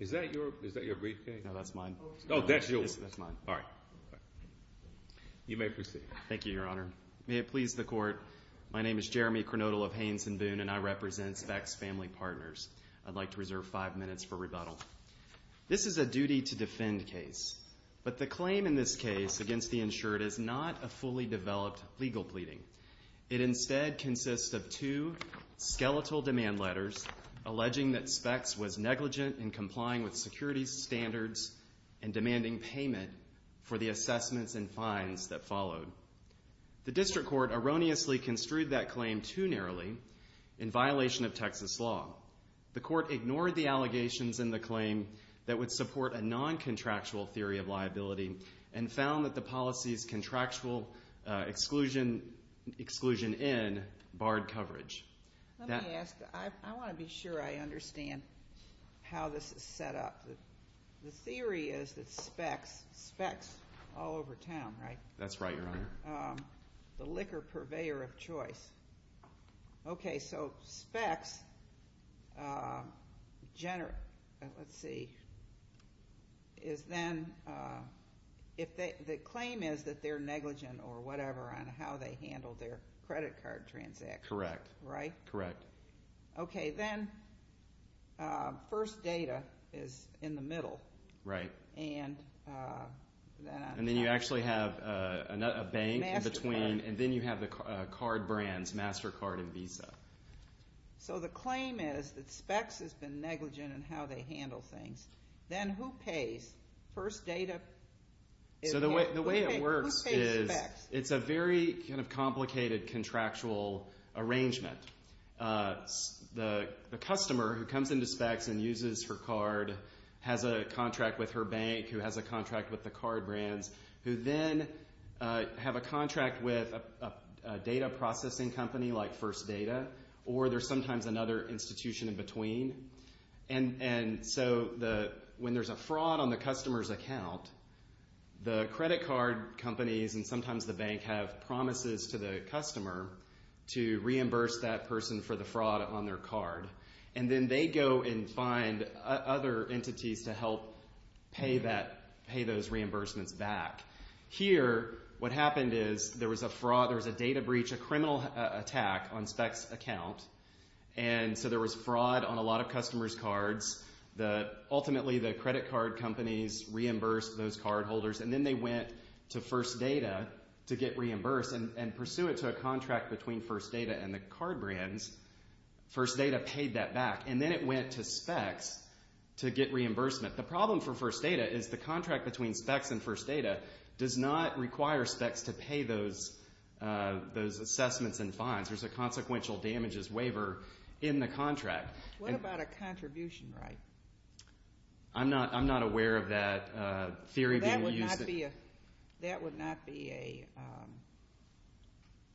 Is that your briefcase? No, that's mine. Oh, that's yours. That's mine. All right. You may proceed. Thank you, Your Honor. May it please the Court, my name is Jeremy Cronodal of Hanes & Boone, and I represent Specs Family Partners. I'd like to reserve five minutes for rebuttal. This is a duty-to-defend case, but the claim in this case against the insured is not a fully developed legal pleading. It instead consists of two skeletal demand letters alleging that Specs was negligent in complying with security standards and demanding payment for the assessments and fines that followed. The district court erroneously construed that claim too narrowly in violation of Texas law. The court ignored the allegations in the claim that would support a non-contractual theory of liability and found that the policy's contractual exclusion in barred coverage. Let me ask, I want to be sure I understand how this is set up. The theory is that Specs, Specs all over town, right? That's right, Your Honor. The liquor purveyor of choice. Okay, so Specs, let's see, is then, the claim is that they're negligent or whatever on how they handle their credit card transactions. Correct. Right? Correct. Okay, then first data is in the middle. Right. And then you actually have a bank in between, and then you have the card brands, MasterCard and Visa. So the claim is that Specs has been negligent in how they handle things. Then who pays? First data? So the way it works is it's a very kind of complicated contractual arrangement. The customer who comes into Specs and uses her card has a contract with her bank who has a contract with the card brands, who then have a contract with a data processing company like First Data, or there's sometimes another institution in between. And so when there's a fraud on the customer's account, the credit card companies and sometimes the bank have promises to the customer to reimburse that person for the fraud on their card. And then they go and find other entities to help pay those reimbursements back. Here, what happened is there was a fraud, there was a data breach, a criminal attack on Specs' account, and so there was fraud on a lot of customers' cards. Ultimately, the credit card companies reimbursed those cardholders, and then they went to First Data to get reimbursed, and pursuant to a contract between First Data and the card brands, First Data paid that back. And then it went to Specs to get reimbursement. The problem for First Data is the contract between Specs and First Data does not require Specs to pay those assessments and fines. There's a consequential damages waiver in the contract. What about a contribution right? I'm not aware of that theory being used. That would not be a,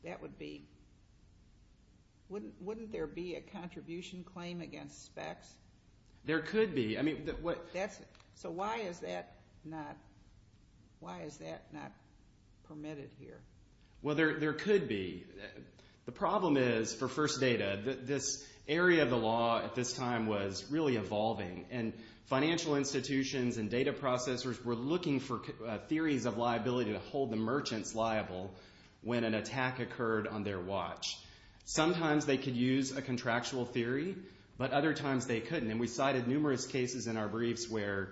that would be, wouldn't there be a contribution claim against Specs? There could be. So why is that not, why is that not permitted here? Well, there could be. The problem is for First Data, this area of the law at this time was really evolving, and financial institutions and data processors were looking for theories of liability to hold the merchants liable when an attack occurred on their watch. Sometimes they could use a contractual theory, but other times they couldn't, and we cited numerous cases in our briefs where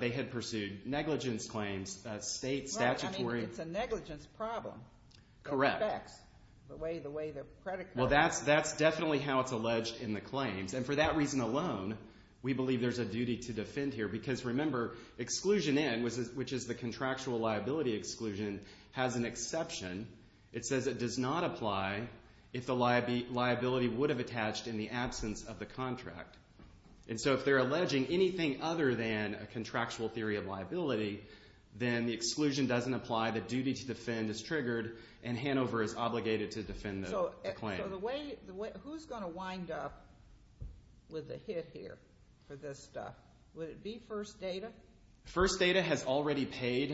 they had pursued negligence claims, state statutory. I mean, it's a negligence problem. Correct. For Specs, the way the credit card. Well, that's definitely how it's alleged in the claims, and for that reason alone, we believe there's a duty to defend here, because remember, exclusion N, which is the contractual liability exclusion, has an exception. It says it does not apply if the liability would have attached in the absence of the contract. And so if they're alleging anything other than a contractual theory of liability, then the exclusion doesn't apply, the duty to defend is triggered, and Hanover is obligated to defend the claim. So who's going to wind up with a hit here for this stuff? Would it be First Data? First Data has already paid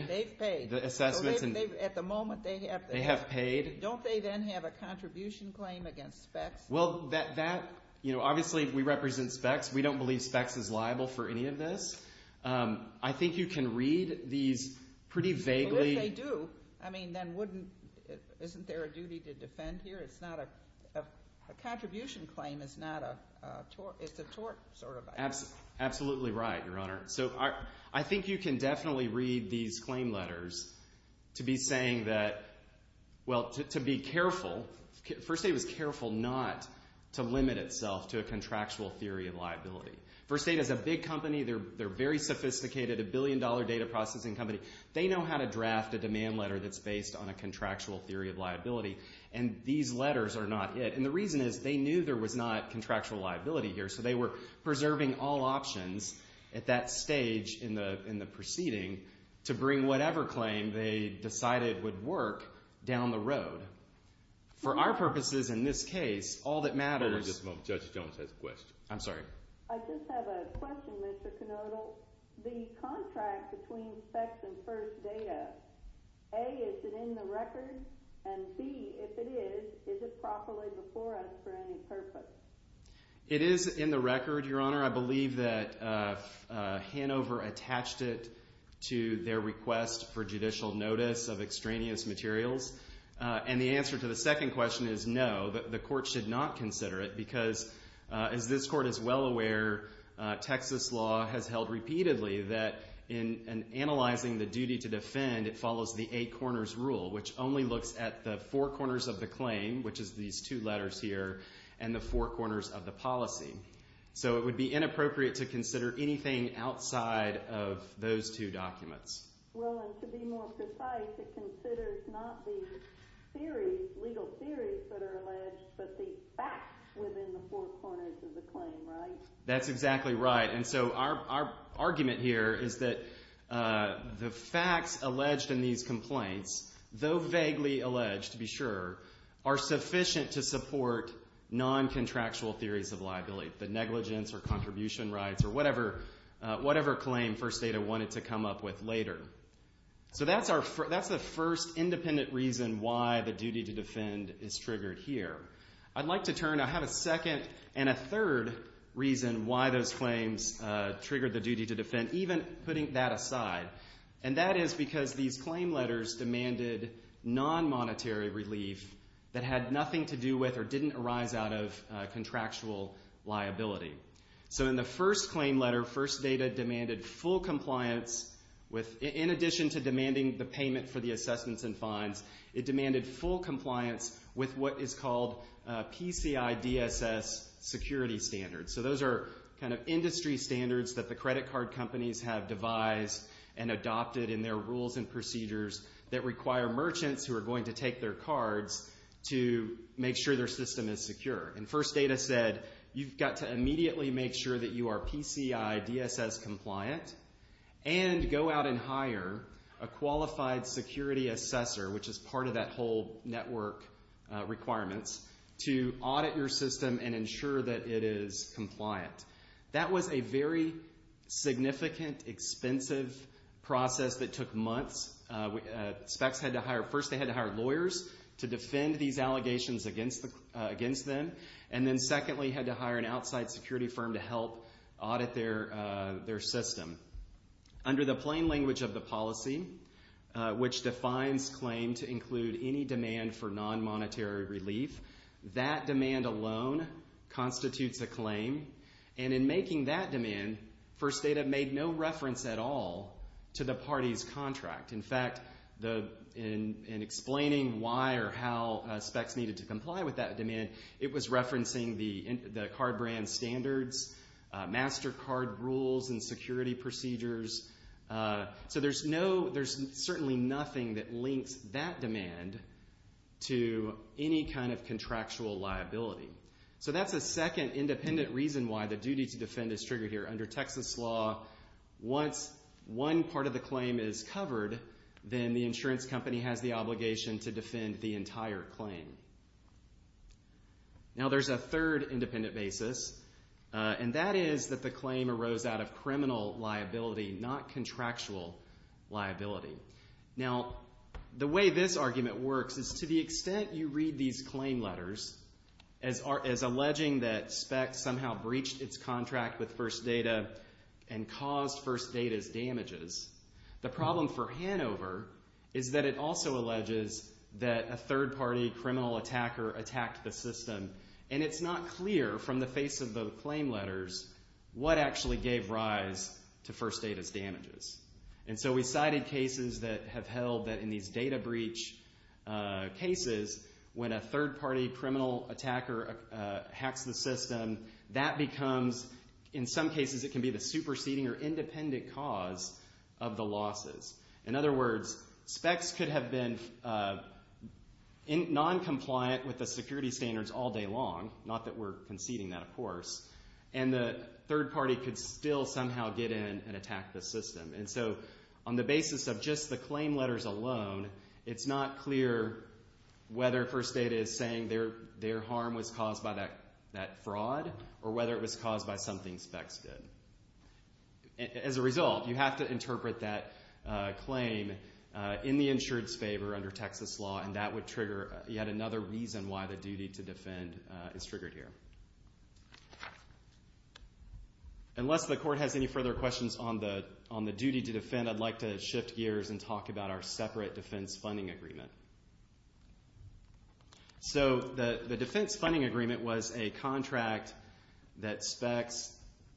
the assessments. They've paid. At the moment, they have paid. Don't they then have a contribution claim against Specs? Well, that, you know, obviously we represent Specs. We don't believe Specs is liable for any of this. I think you can read these pretty vaguely. But if they do, I mean, then wouldn't, isn't there a duty to defend here? It's not a, a contribution claim is not a, it's a tort sort of idea. Absolutely right, Your Honor. So I think you can definitely read these claim letters to be saying that, well, to be careful, First Data was careful not to limit itself to a contractual theory of liability. First Data is a big company. They're very sophisticated, a billion-dollar data processing company. They know how to draft a demand letter that's based on a contractual theory of liability, and these letters are not it. And the reason is they knew there was not contractual liability here, so they were preserving all options at that stage in the proceeding to bring whatever claim they decided would work down the road. For our purposes in this case, all that matters— Hold on just a moment. Judge Jones has a question. I'm sorry. I just have a question, Mr. Canodal. The contract between Specs and First Data, A, is it in the record, and B, if it is, is it properly before us for any purpose? It is in the record, Your Honor. I believe that Hanover attached it to their request for judicial notice of extraneous materials. And the answer to the second question is no, the court should not consider it because, as this court is well aware, Texas law has held repeatedly that in analyzing the duty to defend, it follows the eight corners rule, which only looks at the four corners of the claim, which is these two letters here, and the four corners of the policy. So it would be inappropriate to consider anything outside of those two documents. Well, and to be more precise, it considers not the theories, legal theories that are alleged, but the facts within the four corners of the claim, right? That's exactly right. And so our argument here is that the facts alleged in these complaints, though vaguely alleged to be sure, are sufficient to support non-contractual theories of liability, the negligence or contribution rights or whatever claim First Data wanted to come up with later. So that's the first independent reason why the duty to defend is triggered here. I'd like to turn to a second and a third reason why those claims triggered the duty to defend, even putting that aside, and that is because these claim letters demanded non-monetary relief that had nothing to do with or didn't arise out of contractual liability. So in the first claim letter, First Data demanded full compliance with, in addition to demanding the payment for the assessments and fines, it demanded full compliance with what is called PCI DSS security standards. So those are kind of industry standards that the credit card companies have devised and adopted in their rules and procedures that require merchants who are going to take their cards to make sure their system is secure. And First Data said you've got to immediately make sure that you are PCI DSS compliant and go out and hire a qualified security assessor, which is part of that whole network requirements, to audit your system and ensure that it is compliant. That was a very significant, expensive process that took months. First they had to hire lawyers to defend these allegations against them, and then secondly had to hire an outside security firm to help audit their system. Under the plain language of the policy, which defines claim to include any demand for non-monetary relief, that demand alone constitutes a claim, and in making that demand, First Data made no reference at all to the party's contract. In fact, in explaining why or how specs needed to comply with that demand, it was referencing the card brand standards, master card rules and security procedures. So there's certainly nothing that links that demand to any kind of contractual liability. So that's a second independent reason why the duty to defend is triggered here. Under Texas law, once one part of the claim is covered, then the insurance company has the obligation to defend the entire claim. Now there's a third independent basis, and that is that the claim arose out of criminal liability, not contractual liability. Now the way this argument works is to the extent you read these claim letters as alleging that specs somehow breached its contract with First Data and caused First Data's damages, the problem for Hanover is that it also alleges that a third-party criminal attacker attacked the system, and it's not clear from the face of the claim letters what actually gave rise to First Data's damages. And so we cited cases that have held that in these data breach cases, when a third-party criminal attacker hacks the system, that becomes, in some cases, it can be the superseding or independent cause of the losses. In other words, specs could have been noncompliant with the security standards all day long, not that we're conceding that, of course, and the third party could still somehow get in and attack the system. And so on the basis of just the claim letters alone, it's not clear whether First Data is saying their harm was caused by that fraud or whether it was caused by something specs did. As a result, you have to interpret that claim in the insured's favor under Texas law, and that would trigger yet another reason why the duty to defend is triggered here. Unless the court has any further questions on the duty to defend, I'd like to shift gears and talk about our separate defense funding agreement. So the defense funding agreement was a contract that specs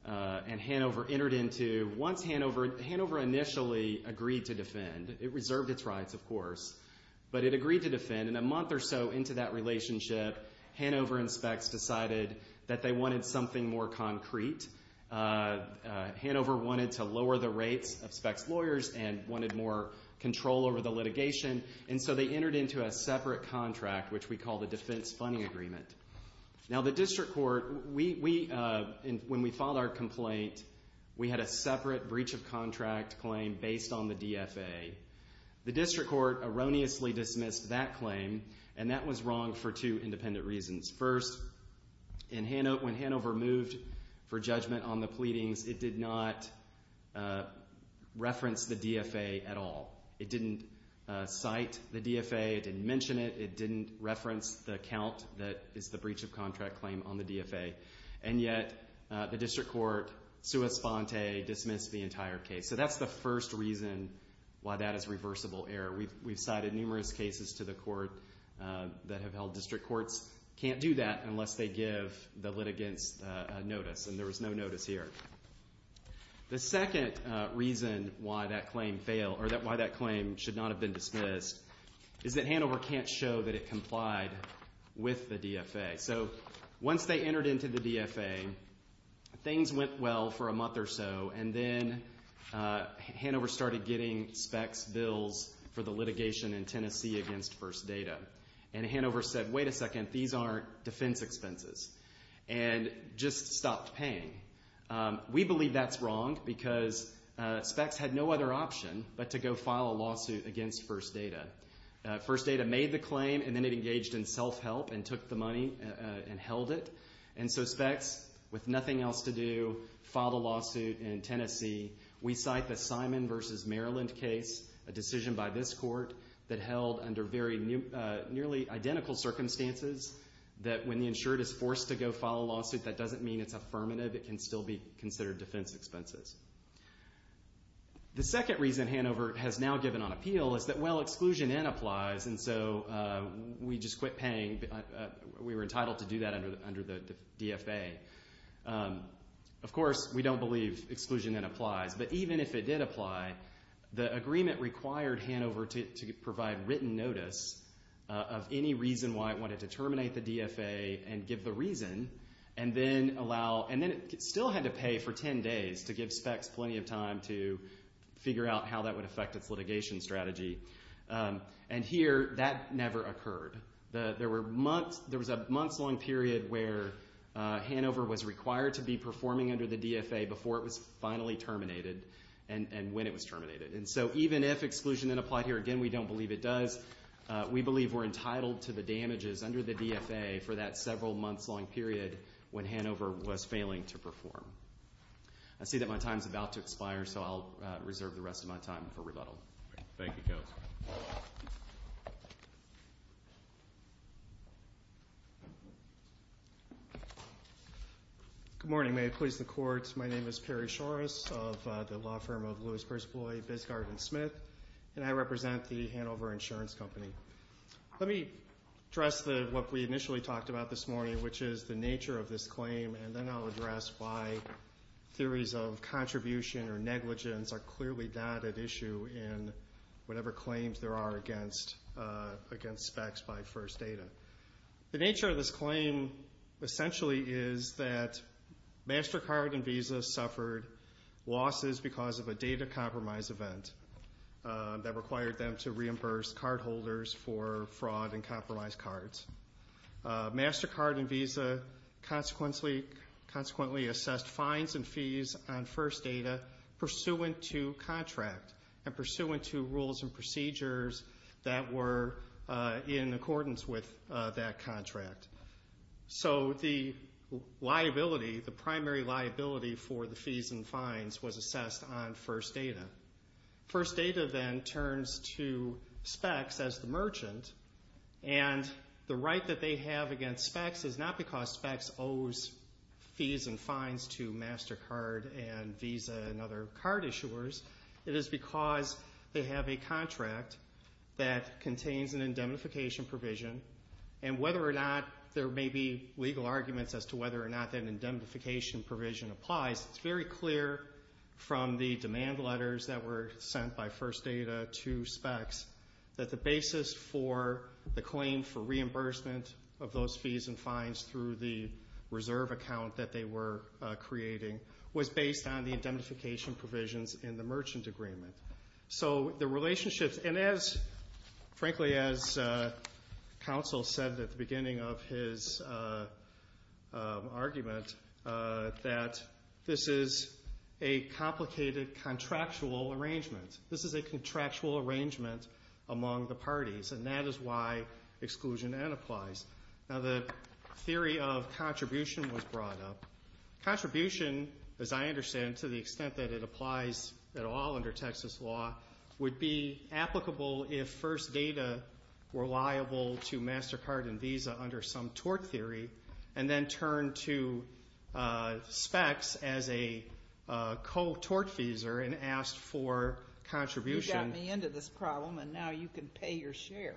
and Hanover entered into. Once Hanover initially agreed to defend, it reserved its rights, of course, but it agreed to defend, and a month or so into that relationship, Hanover and specs decided that they wanted something more concrete. Hanover wanted to lower the rates of specs' lawyers and wanted more control over the litigation, and so they entered into a separate contract, which we call the defense funding agreement. Now the district court, when we filed our complaint, we had a separate breach of contract claim based on the DFA. The district court erroneously dismissed that claim, and that was wrong for two independent reasons. First, when Hanover moved for judgment on the pleadings, it did not reference the DFA at all. It didn't cite the DFA. It didn't mention it. It didn't reference the account that is the breach of contract claim on the DFA, and yet the district court, sua sponte, dismissed the entire case. So that's the first reason why that is reversible error. We've cited numerous cases to the court that have held district courts can't do that unless they give the litigants notice, and there was no notice here. The second reason why that claim should not have been dismissed is that Hanover can't show that it complied with the DFA. So once they entered into the DFA, things went well for a month or so, and then Hanover started getting specs bills for the litigation in Tennessee against First Data. And Hanover said, wait a second, these aren't defense expenses, and just stopped paying. We believe that's wrong because specs had no other option but to go file a lawsuit against First Data. First Data made the claim, and then it engaged in self-help and took the money and held it. And so specs, with nothing else to do, filed a lawsuit in Tennessee. We cite the Simon v. Maryland case, a decision by this court, that held under nearly identical circumstances, that when the insured is forced to go file a lawsuit, that doesn't mean it's affirmative. It can still be considered defense expenses. The second reason Hanover has now given on appeal is that, well, exclusion in applies, and so we just quit paying. We were entitled to do that under the DFA. Of course, we don't believe exclusion in applies. But even if it did apply, the agreement required Hanover to provide written notice of any reason why it wanted to terminate the DFA and give the reason, and then it still had to pay for ten days to give specs plenty of time to figure out how that would affect its litigation strategy. And here, that never occurred. There was a months-long period where Hanover was required to be performing under the DFA before it was finally terminated and when it was terminated. And so even if exclusion in applied here, again, we don't believe it does, we believe we're entitled to the damages under the DFA for that several months-long period when Hanover was failing to perform. I see that my time is about to expire, so I'll reserve the rest of my time for rebuttal. Thank you, Counselor. Good morning. May it please the Court, my name is Perry Shores of the law firm of Lewis, Perspoy, Biscard, and Smith, and I represent the Hanover Insurance Company. Let me address what we initially talked about this morning, which is the nature of this claim, and then I'll address why theories of contribution or negligence are clearly not at issue in whatever claims there are against specs by First Data. The nature of this claim essentially is that MasterCard and Visa suffered losses because of a data compromise event that required them to reimburse cardholders for fraud and compromised cards. MasterCard and Visa consequently assessed fines and fees on First Data pursuant to contract and pursuant to rules and procedures that were in accordance with that contract. So the liability, the primary liability for the fees and fines was assessed on First Data. First Data then turns to specs as the merchant, and the right that they have against specs is not because specs owes fees and fines to MasterCard and Visa and other card issuers. It is because they have a contract that contains an indemnification provision, and whether or not there may be legal arguments as to whether or not that indemnification provision applies, it's very clear from the demand letters that were sent by First Data to specs that the basis for the claim for reimbursement of those fees and fines through the reserve account that they were creating was based on the indemnification provisions in the merchant agreement. So the relationships, and frankly as counsel said at the beginning of his argument, that this is a complicated contractual arrangement. This is a contractual arrangement among the parties, and that is why exclusion N applies. Now the theory of contribution was brought up. Contribution, as I understand, to the extent that it applies at all under Texas law, would be applicable if First Data were liable to MasterCard and Visa under some tort theory and then turned to specs as a co-tort feeser and asked for contribution. You got me into this problem, and now you can pay your share.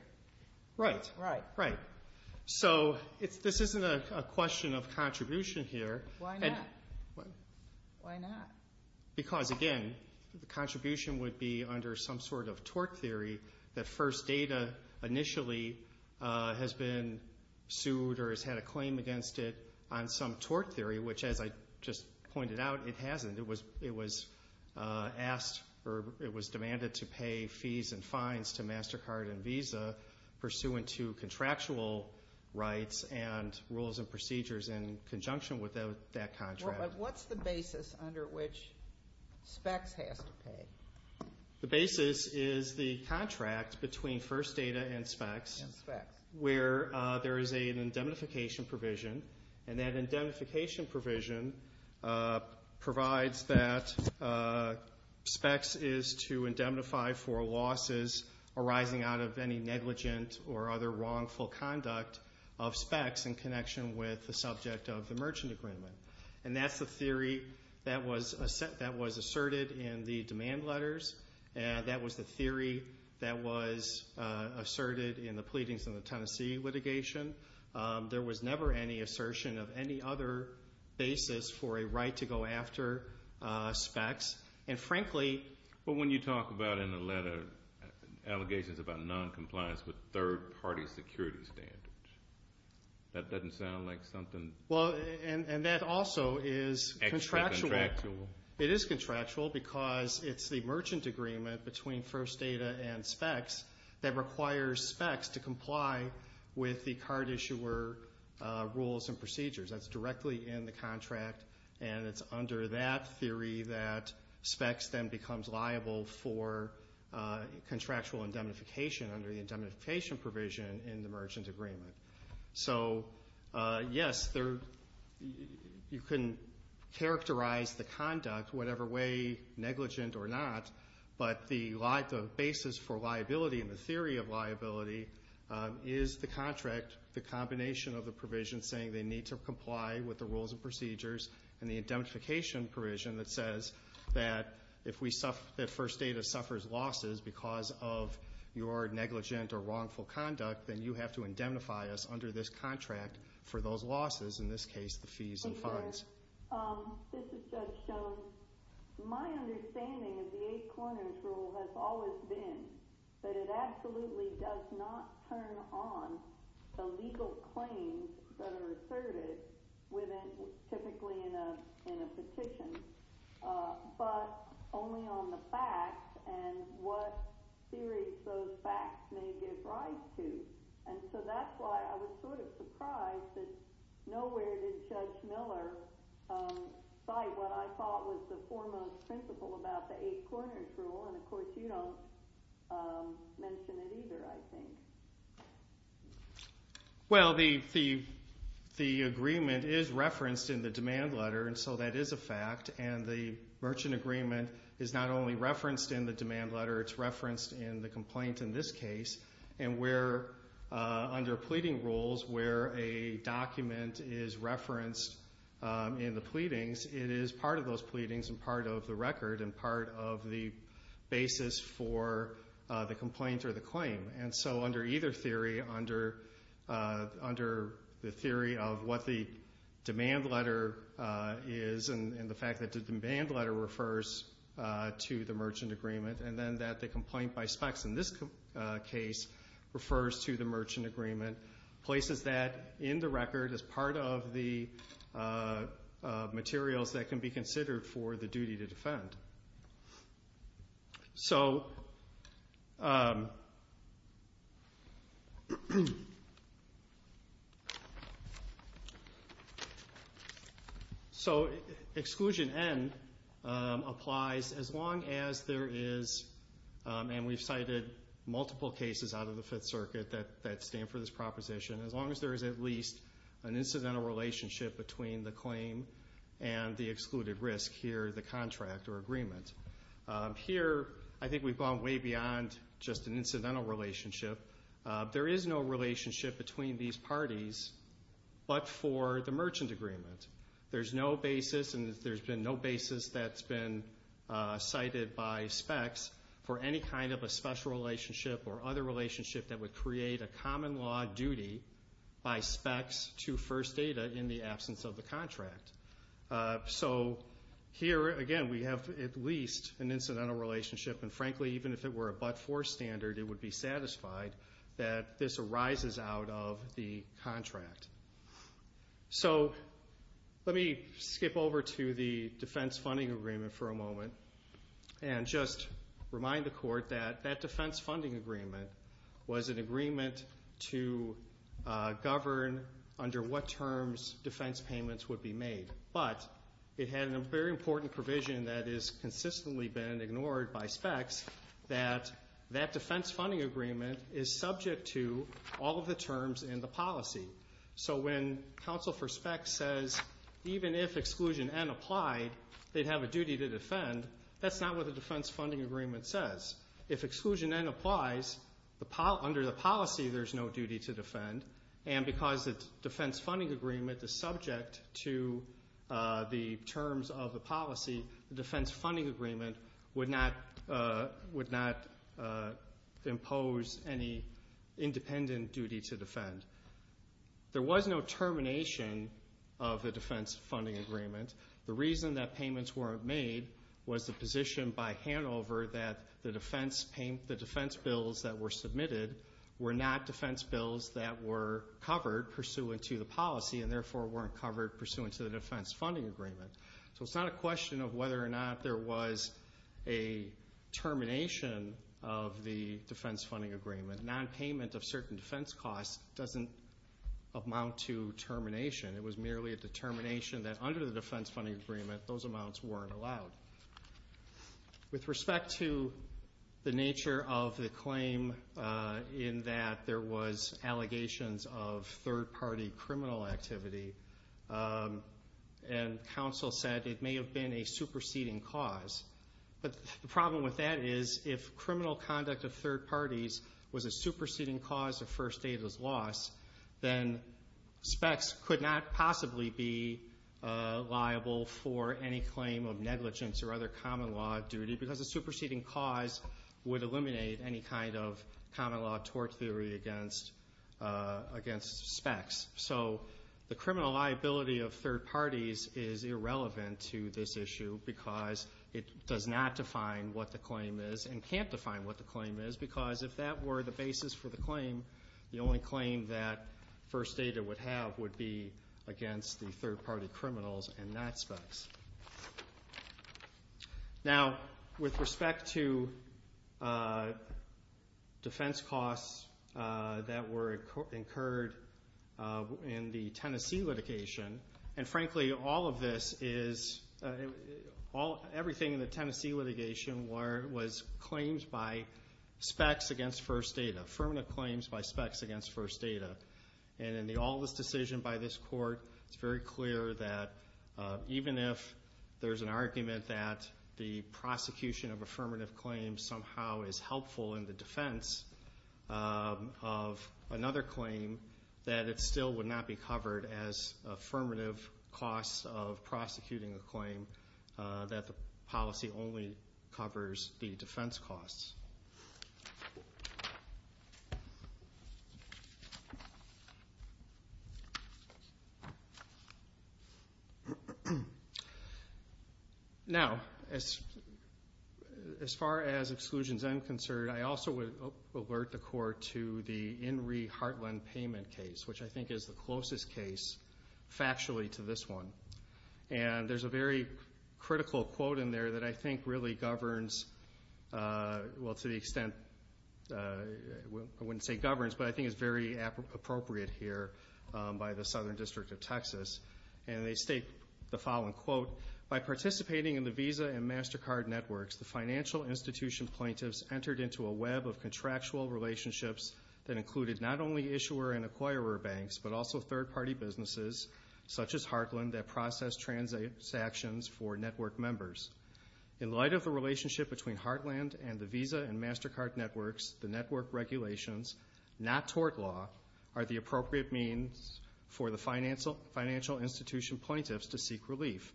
Right. So this isn't a question of contribution here. Why not? Because again, the contribution would be under some sort of tort theory that First Data initially has been sued or has had a claim against it on some tort theory, which as I just pointed out, it hasn't. It was asked or it was demanded to pay fees and fines to MasterCard and Visa pursuant to contractual rights and rules and procedures in conjunction with that contract. What's the basis under which specs has to pay? The basis is the contract between First Data and specs where there is an indemnification provision, and that indemnification provision provides that specs is to indemnify for losses arising out of any negligent or other wrongful conduct of specs in connection with the subject of the merchant agreement. And that's the theory that was asserted in the demand letters. That was the theory that was asserted in the pleadings in the Tennessee litigation. There was never any assertion of any other basis for a right to go after specs. And frankly, But when you talk about in the letter allegations about noncompliance with third-party security standards, that doesn't sound like something Well, and that also is contractual. It is contractual because it's the merchant agreement between First Data and specs that requires specs to comply with the card issuer rules and procedures. That's directly in the contract, and it's under that theory that specs then becomes liable for contractual indemnification under the indemnification provision in the merchant agreement. So, yes, you can characterize the conduct whatever way, negligent or not, but the basis for liability and the theory of liability is the contract, the combination of the provision saying they need to comply with the rules and procedures, and the indemnification provision that says that if First Data suffers losses because of your negligent or wrongful conduct, then you have to indemnify us under this contract for those losses, in this case the fees and fines. This is Judge Jones. My understanding of the Eight Corners rule has always been that it absolutely does not turn on the legal claims that are asserted, typically in a petition, but only on the facts and what theories those facts may give rise to. And so that's why I was sort of surprised that nowhere did Judge Miller cite what I thought was the foremost principle about the Eight Corners rule, and of course you don't mention it either, I think. Well, the agreement is referenced in the demand letter, and so that is a fact, and the merchant agreement is not only referenced in the demand letter, it's referenced in the complaint in this case, and under pleading rules where a document is referenced in the pleadings, it is part of those pleadings and part of the record and part of the basis for the complaint or the claim. And so under either theory, under the theory of what the demand letter is and the fact that the demand letter refers to the merchant agreement, and then that the complaint by specs in this case refers to the merchant agreement, places that in the record as part of the materials that can be considered for the duty to defend. So exclusion N applies as long as there is, and we've cited multiple cases out of the Fifth Circuit that stand for this proposition, as long as there is at least an incidental relationship between the claim and the excluded risk here, the contract or agreement. Here, I think we've gone way beyond just an incidental relationship. There is no relationship between these parties but for the merchant agreement. There's no basis, and there's been no basis that's been cited by specs for any kind of a special relationship or other relationship that would create a common law duty by specs to first data in the absence of the contract. So here, again, we have at least an incidental relationship, and frankly, even if it were a but-for standard, it would be satisfied that this arises out of the contract. So let me skip over to the defense funding agreement for a moment and just remind the Court that that defense funding agreement was an agreement to govern under what terms defense payments would be made. But it had a very important provision that has consistently been ignored by specs, that that defense funding agreement is subject to all of the terms in the policy. So when counsel for specs says even if exclusion N applied, they'd have a duty to defend, that's not what the defense funding agreement says. If exclusion N applies, under the policy, there's no duty to defend, and because the defense funding agreement is subject to the terms of the policy, the defense funding agreement would not impose any independent duty to defend. There was no termination of the defense funding agreement. The reason that payments weren't made was the position by Hanover that the defense bills that were submitted were not defense bills that were covered pursuant to the policy and therefore weren't covered pursuant to the defense funding agreement. So it's not a question of whether or not there was a termination of the defense funding agreement. Nonpayment of certain defense costs doesn't amount to termination. It was merely a determination that under the defense funding agreement, those amounts weren't allowed. With respect to the nature of the claim in that there was allegations of third-party criminal activity and counsel said it may have been a superseding cause. But the problem with that is if criminal conduct of third parties was a superseding cause of First Davis loss, then specs could not possibly be liable for any claim of negligence or other common law duty because a superseding cause would eliminate any kind of common law tort theory against specs. So the criminal liability of third parties is irrelevant to this issue because it does not define what the claim is and can't define what the claim is because if that were the basis for the claim, the only claim that First Data would have would be against the third-party criminals and not specs. Now with respect to defense costs that were incurred in the Tennessee litigation, and frankly all of this is, everything in the Tennessee litigation was claims by specs against First Data, affirmative claims by specs against First Data. And in the all of this decision by this court, it's very clear that even if there's an argument that the prosecution of affirmative claims somehow is helpful in the defense of another claim, that it still would not be covered as affirmative costs of prosecuting a claim that the policy only covers the defense costs. Now, as far as exclusions are concerned, I also would alert the court to the Inree Hartland payment case, which I think is the closest case factually to this one. And there's a very critical quote in there that I think really governs, well, to the extent, I wouldn't say governs, but I think it's very appropriate here by the Southern District of Texas. And they state the following, quote, By participating in the Visa and MasterCard networks, the financial institution plaintiffs entered into a web of contractual relationships that included not only issuer and acquirer banks, but also third-party businesses, such as Hartland, that processed transactions for network members. In light of the relationship between Hartland and the Visa and MasterCard networks, the network regulations, not tort law, are the appropriate means for the financial institution plaintiffs to seek relief.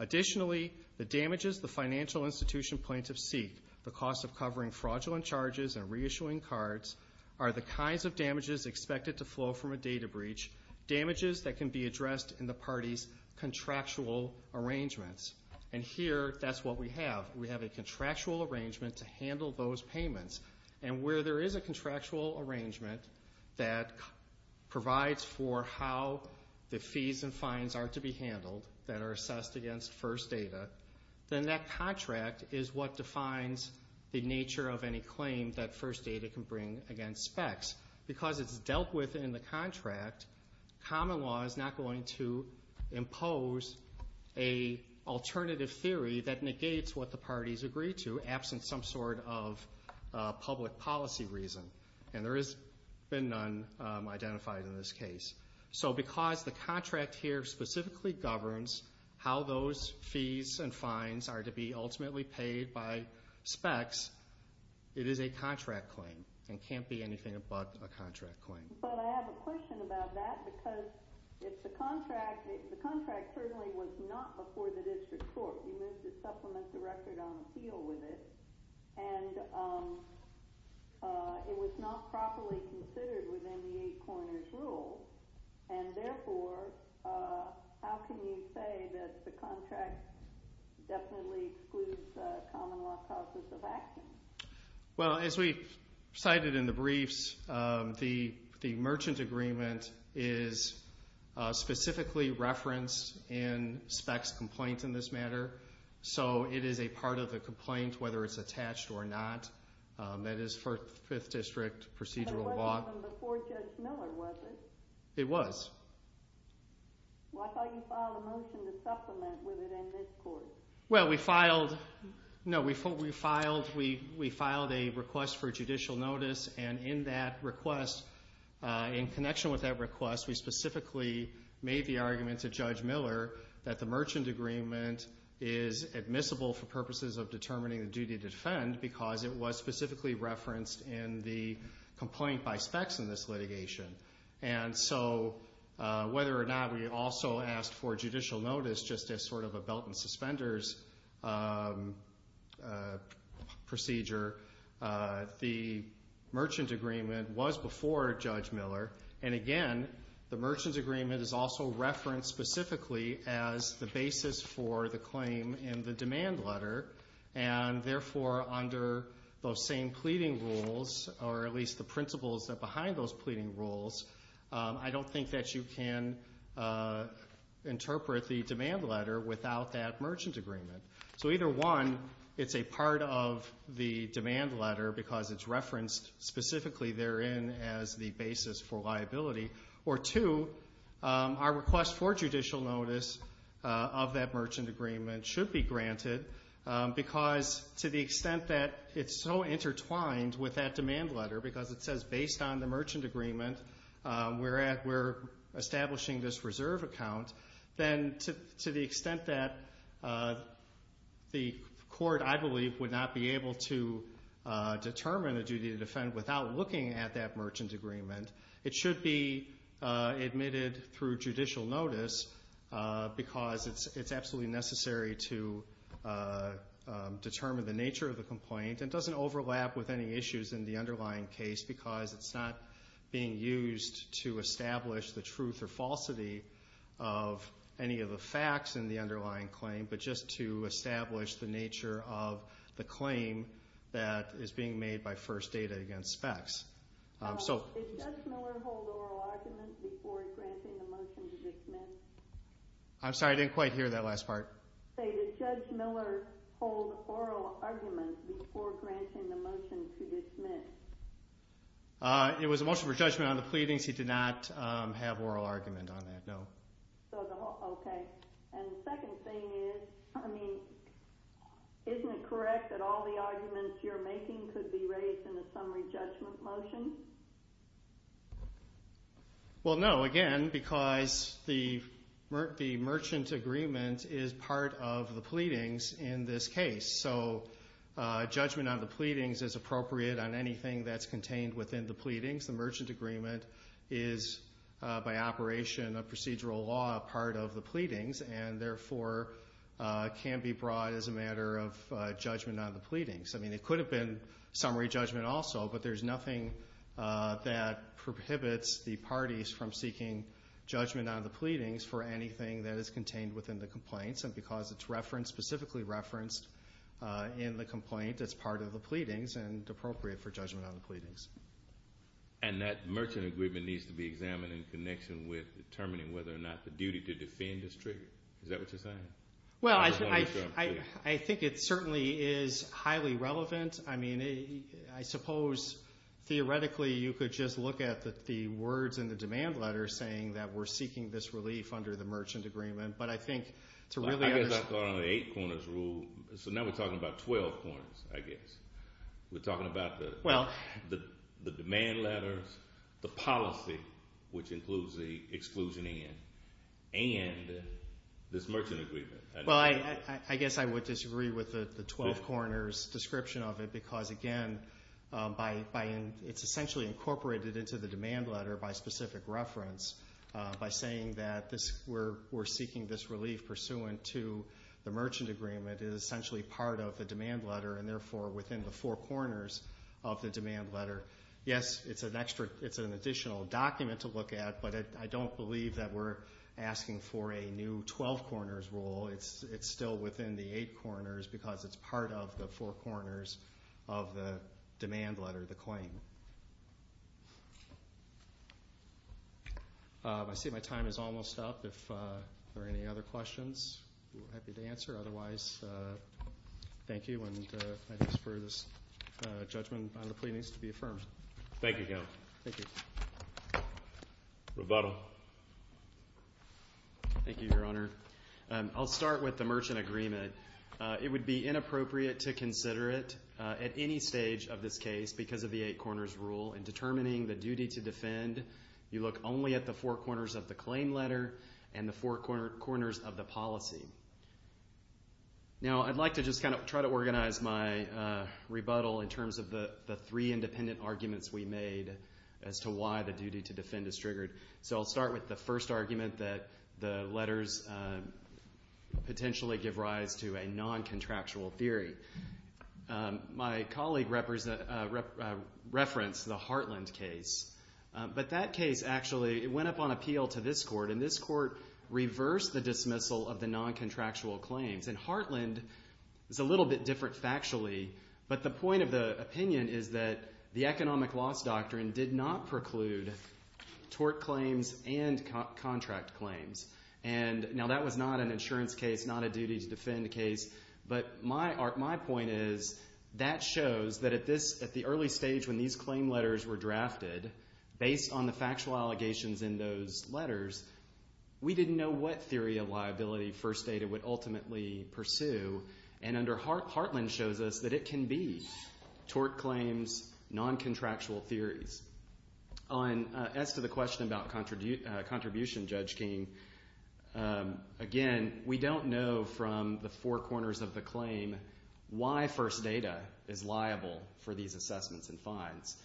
Additionally, the damages the financial institution plaintiffs seek, the cost of covering fraudulent charges and reissuing cards, are the kinds of damages expected to flow from a data breach, damages that can be addressed in the parties' contractual arrangements. And here, that's what we have. We have a contractual arrangement to handle those payments. And where there is a contractual arrangement that provides for how the fees and fines are to be handled that are assessed against first data, then that contract is what defines the nature of any claim that first data can bring against specs. Because it's dealt with in the contract, common law is not going to impose an alternative theory that negates what the parties agree to, absent some sort of public policy reason. And there has been none identified in this case. So because the contract here specifically governs how those fees and fines are to be ultimately paid by specs, it is a contract claim and can't be anything but a contract claim. But I have a question about that because it's a contract. The contract certainly was not before the district court. We moved to supplement the record on appeal with it. And it was not properly considered within the eight corners rule. And therefore, how can you say that the contract definitely excludes common law causes of action? Well, as we cited in the briefs, the merchant agreement is specifically referenced in specs complaints in this matter. So it is a part of the complaint, whether it's attached or not. That is for fifth district procedural law. But it wasn't before Judge Miller, was it? It was. Well, I thought you filed a motion to supplement with it in this court. Well, we filed a request for judicial notice. And in that request, in connection with that request, we specifically made the argument to Judge Miller that the merchant agreement is admissible for purposes of determining the duty to defend because it was specifically referenced in the complaint by specs in this litigation. And so whether or not we also asked for judicial notice just as sort of a belt and suspenders procedure, the merchant agreement was before Judge Miller. And again, the merchant agreement is also referenced specifically as the basis for the claim in the demand letter. And therefore, under those same pleading rules, or at least the principles behind those pleading rules, I don't think that you can interpret the demand letter without that merchant agreement. So either, one, it's a part of the demand letter because it's referenced specifically therein as the basis for liability, or two, our request for judicial notice of that merchant agreement should be granted because to the extent that it's so intertwined with that demand letter, because it says based on the merchant agreement we're establishing this reserve account, then to the extent that the court, I believe, would not be able to determine the duty to defend without looking at that merchant agreement, it should be admitted through judicial notice because it's absolutely necessary to determine the nature of the complaint and doesn't overlap with any issues in the underlying case because it's not being used to establish the truth or falsity of any of the facts in the underlying claim, but just to establish the nature of the claim that is being made by first data against facts. Does Judge Miller hold oral argument before granting the motion to dismiss? I'm sorry, I didn't quite hear that last part. Did Judge Miller hold oral argument before granting the motion to dismiss? It was a motion for judgment on the pleadings. He did not have oral argument on that, no. Okay, and the second thing is, I mean, isn't it correct that all the arguments you're making could be raised in a summary judgment motion? Well, no, again, because the merchant agreement is part of the pleadings in this case, so judgment on the pleadings is appropriate on anything that's contained within the pleadings. The merchant agreement is, by operation of procedural law, part of the pleadings and therefore can be brought as a matter of judgment on the pleadings. I mean, it could have been summary judgment also, but there's nothing that prohibits the parties from seeking judgment on the pleadings for anything that is contained within the complaints, and because it's referenced, specifically referenced in the complaint, it's part of the pleadings and appropriate for judgment on the pleadings. And that merchant agreement needs to be examined in connection with determining whether or not the duty to defend is triggered. Is that what you're saying? Well, I think it certainly is highly relevant. I mean, I suppose theoretically you could just look at the words in the demand letter saying that we're seeking this relief under the merchant agreement, but I think to really understand So now we're talking about 12 corners, I guess. We're talking about the demand letters, the policy, which includes the exclusion end, and this merchant agreement. Well, I guess I would disagree with the 12 corners description of it because, again, it's essentially incorporated into the demand letter by specific reference by saying that we're seeking this relief pursuant to the merchant agreement. It is essentially part of the demand letter and, therefore, within the four corners of the demand letter. Yes, it's an additional document to look at, but I don't believe that we're asking for a new 12 corners rule. It's still within the eight corners because it's part of the four corners of the demand letter, the claim. I see my time is almost up. If there are any other questions, we're happy to answer. Otherwise, thank you, and I ask for this judgment on the pleadings to be affirmed. Thank you, Counsel. Thank you. Rebuttal. Thank you, Your Honor. I'll start with the merchant agreement. It would be inappropriate to consider it at any stage of this case because of the eight corners rule. In determining the duty to defend, you look only at the four corners of the claim letter and the four corners of the policy. Now, I'd like to just kind of try to organize my rebuttal in terms of the three independent arguments we made So I'll start with the first argument that the letters potentially give rise to a non-contractual theory. My colleague referenced the Heartland case, but that case actually went up on appeal to this court, and this court reversed the dismissal of the non-contractual claims. And Heartland is a little bit different factually, but the point of the opinion is that the economic loss doctrine did not preclude tort claims and contract claims. Now, that was not an insurance case, not a duty to defend case, but my point is that shows that at the early stage when these claim letters were drafted, based on the factual allegations in those letters, we didn't know what theory of liability First Data would ultimately pursue. And under Heartland shows us that it can be tort claims, non-contractual theories. As to the question about contribution, Judge King, again, we don't know from the four corners of the claim why First Data is liable for these assessments and fines.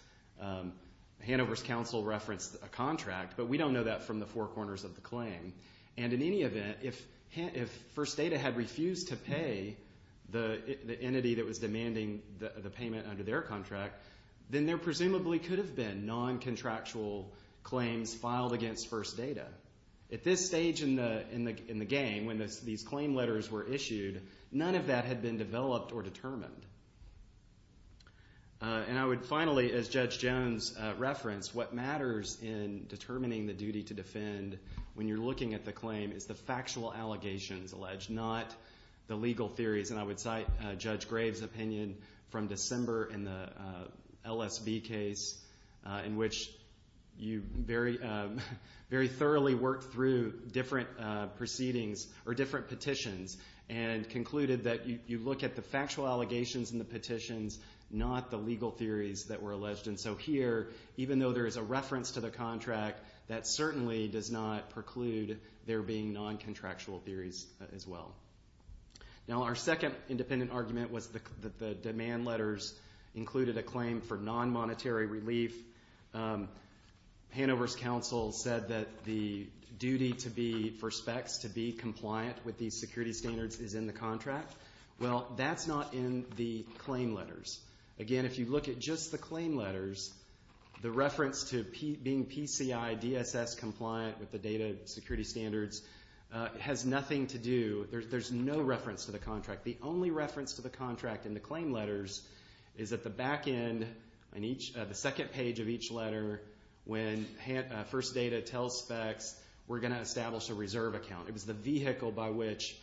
Hanover's counsel referenced a contract, but we don't know that from the four corners of the claim. And in any event, if First Data had refused to pay the entity that was demanding the payment under their contract, then there presumably could have been non-contractual claims filed against First Data. At this stage in the game, when these claim letters were issued, none of that had been developed or determined. And I would finally, as Judge Jones referenced, what matters in determining the duty to defend when you're looking at the claim is the factual allegations alleged, not the legal theories. And I would cite Judge Graves' opinion from December in the LSV case, in which you very thoroughly worked through different proceedings or different petitions and concluded that you look at the factual allegations in the petitions, not the legal theories that were alleged. And so here, even though there is a reference to the contract, that certainly does not preclude there being non-contractual theories as well. Now, our second independent argument was that the demand letters included a claim for non-monetary relief. Hanover's counsel said that the duty for specs to be compliant with these security standards is in the contract. Well, that's not in the claim letters. Again, if you look at just the claim letters, the reference to being PCI DSS compliant with the data security standards has nothing to do, there's no reference to the contract. The only reference to the contract in the claim letters is at the back end on the second page of each letter when First Data tells specs, we're going to establish a reserve account. It was the vehicle by which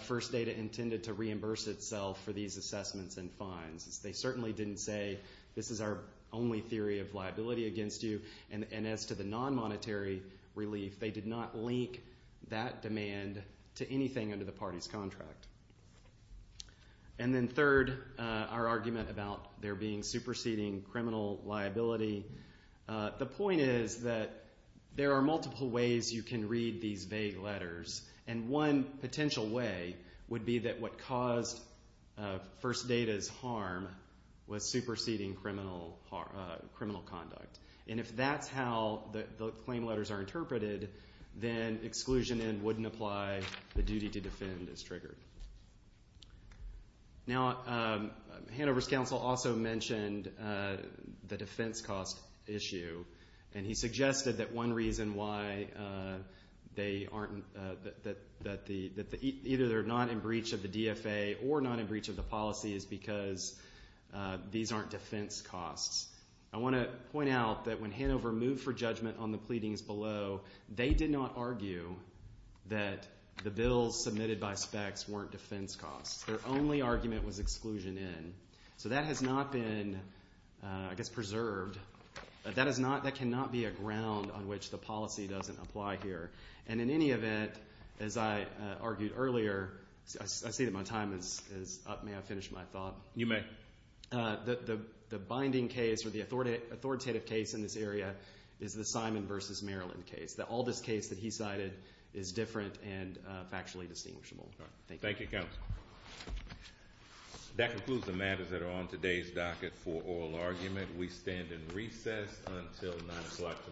First Data intended to reimburse itself for these assessments and fines. They certainly didn't say, this is our only theory of liability against you. And as to the non-monetary relief, they did not link that demand to anything under the party's contract. And then third, our argument about there being superseding criminal liability. The point is that there are multiple ways you can read these vague letters, and one potential way would be that what caused First Data's harm was superseding criminal conduct. And if that's how the claim letters are interpreted, then exclusion and wouldn't apply, the duty to defend is triggered. Now, Hanover's counsel also mentioned the defense cost issue, and he suggested that one reason why either they're not in breach of the DFA or not in breach of the policy is because these aren't defense costs. I want to point out that when Hanover moved for judgment on the pleadings below, they did not argue that the bills submitted by specs weren't defense costs. Their only argument was exclusion in. So that has not been, I guess, preserved. That cannot be a ground on which the policy doesn't apply here. And in any event, as I argued earlier, I see that my time is up. May I finish my thought? You may. The binding case or the authoritative case in this area is the Simon v. Maryland case. All this case that he cited is different and factually distinguishable. Thank you. Thank you, counsel. That concludes the matters that are on today's docket for oral argument. We stand in recess until 9 o'clock tomorrow morning.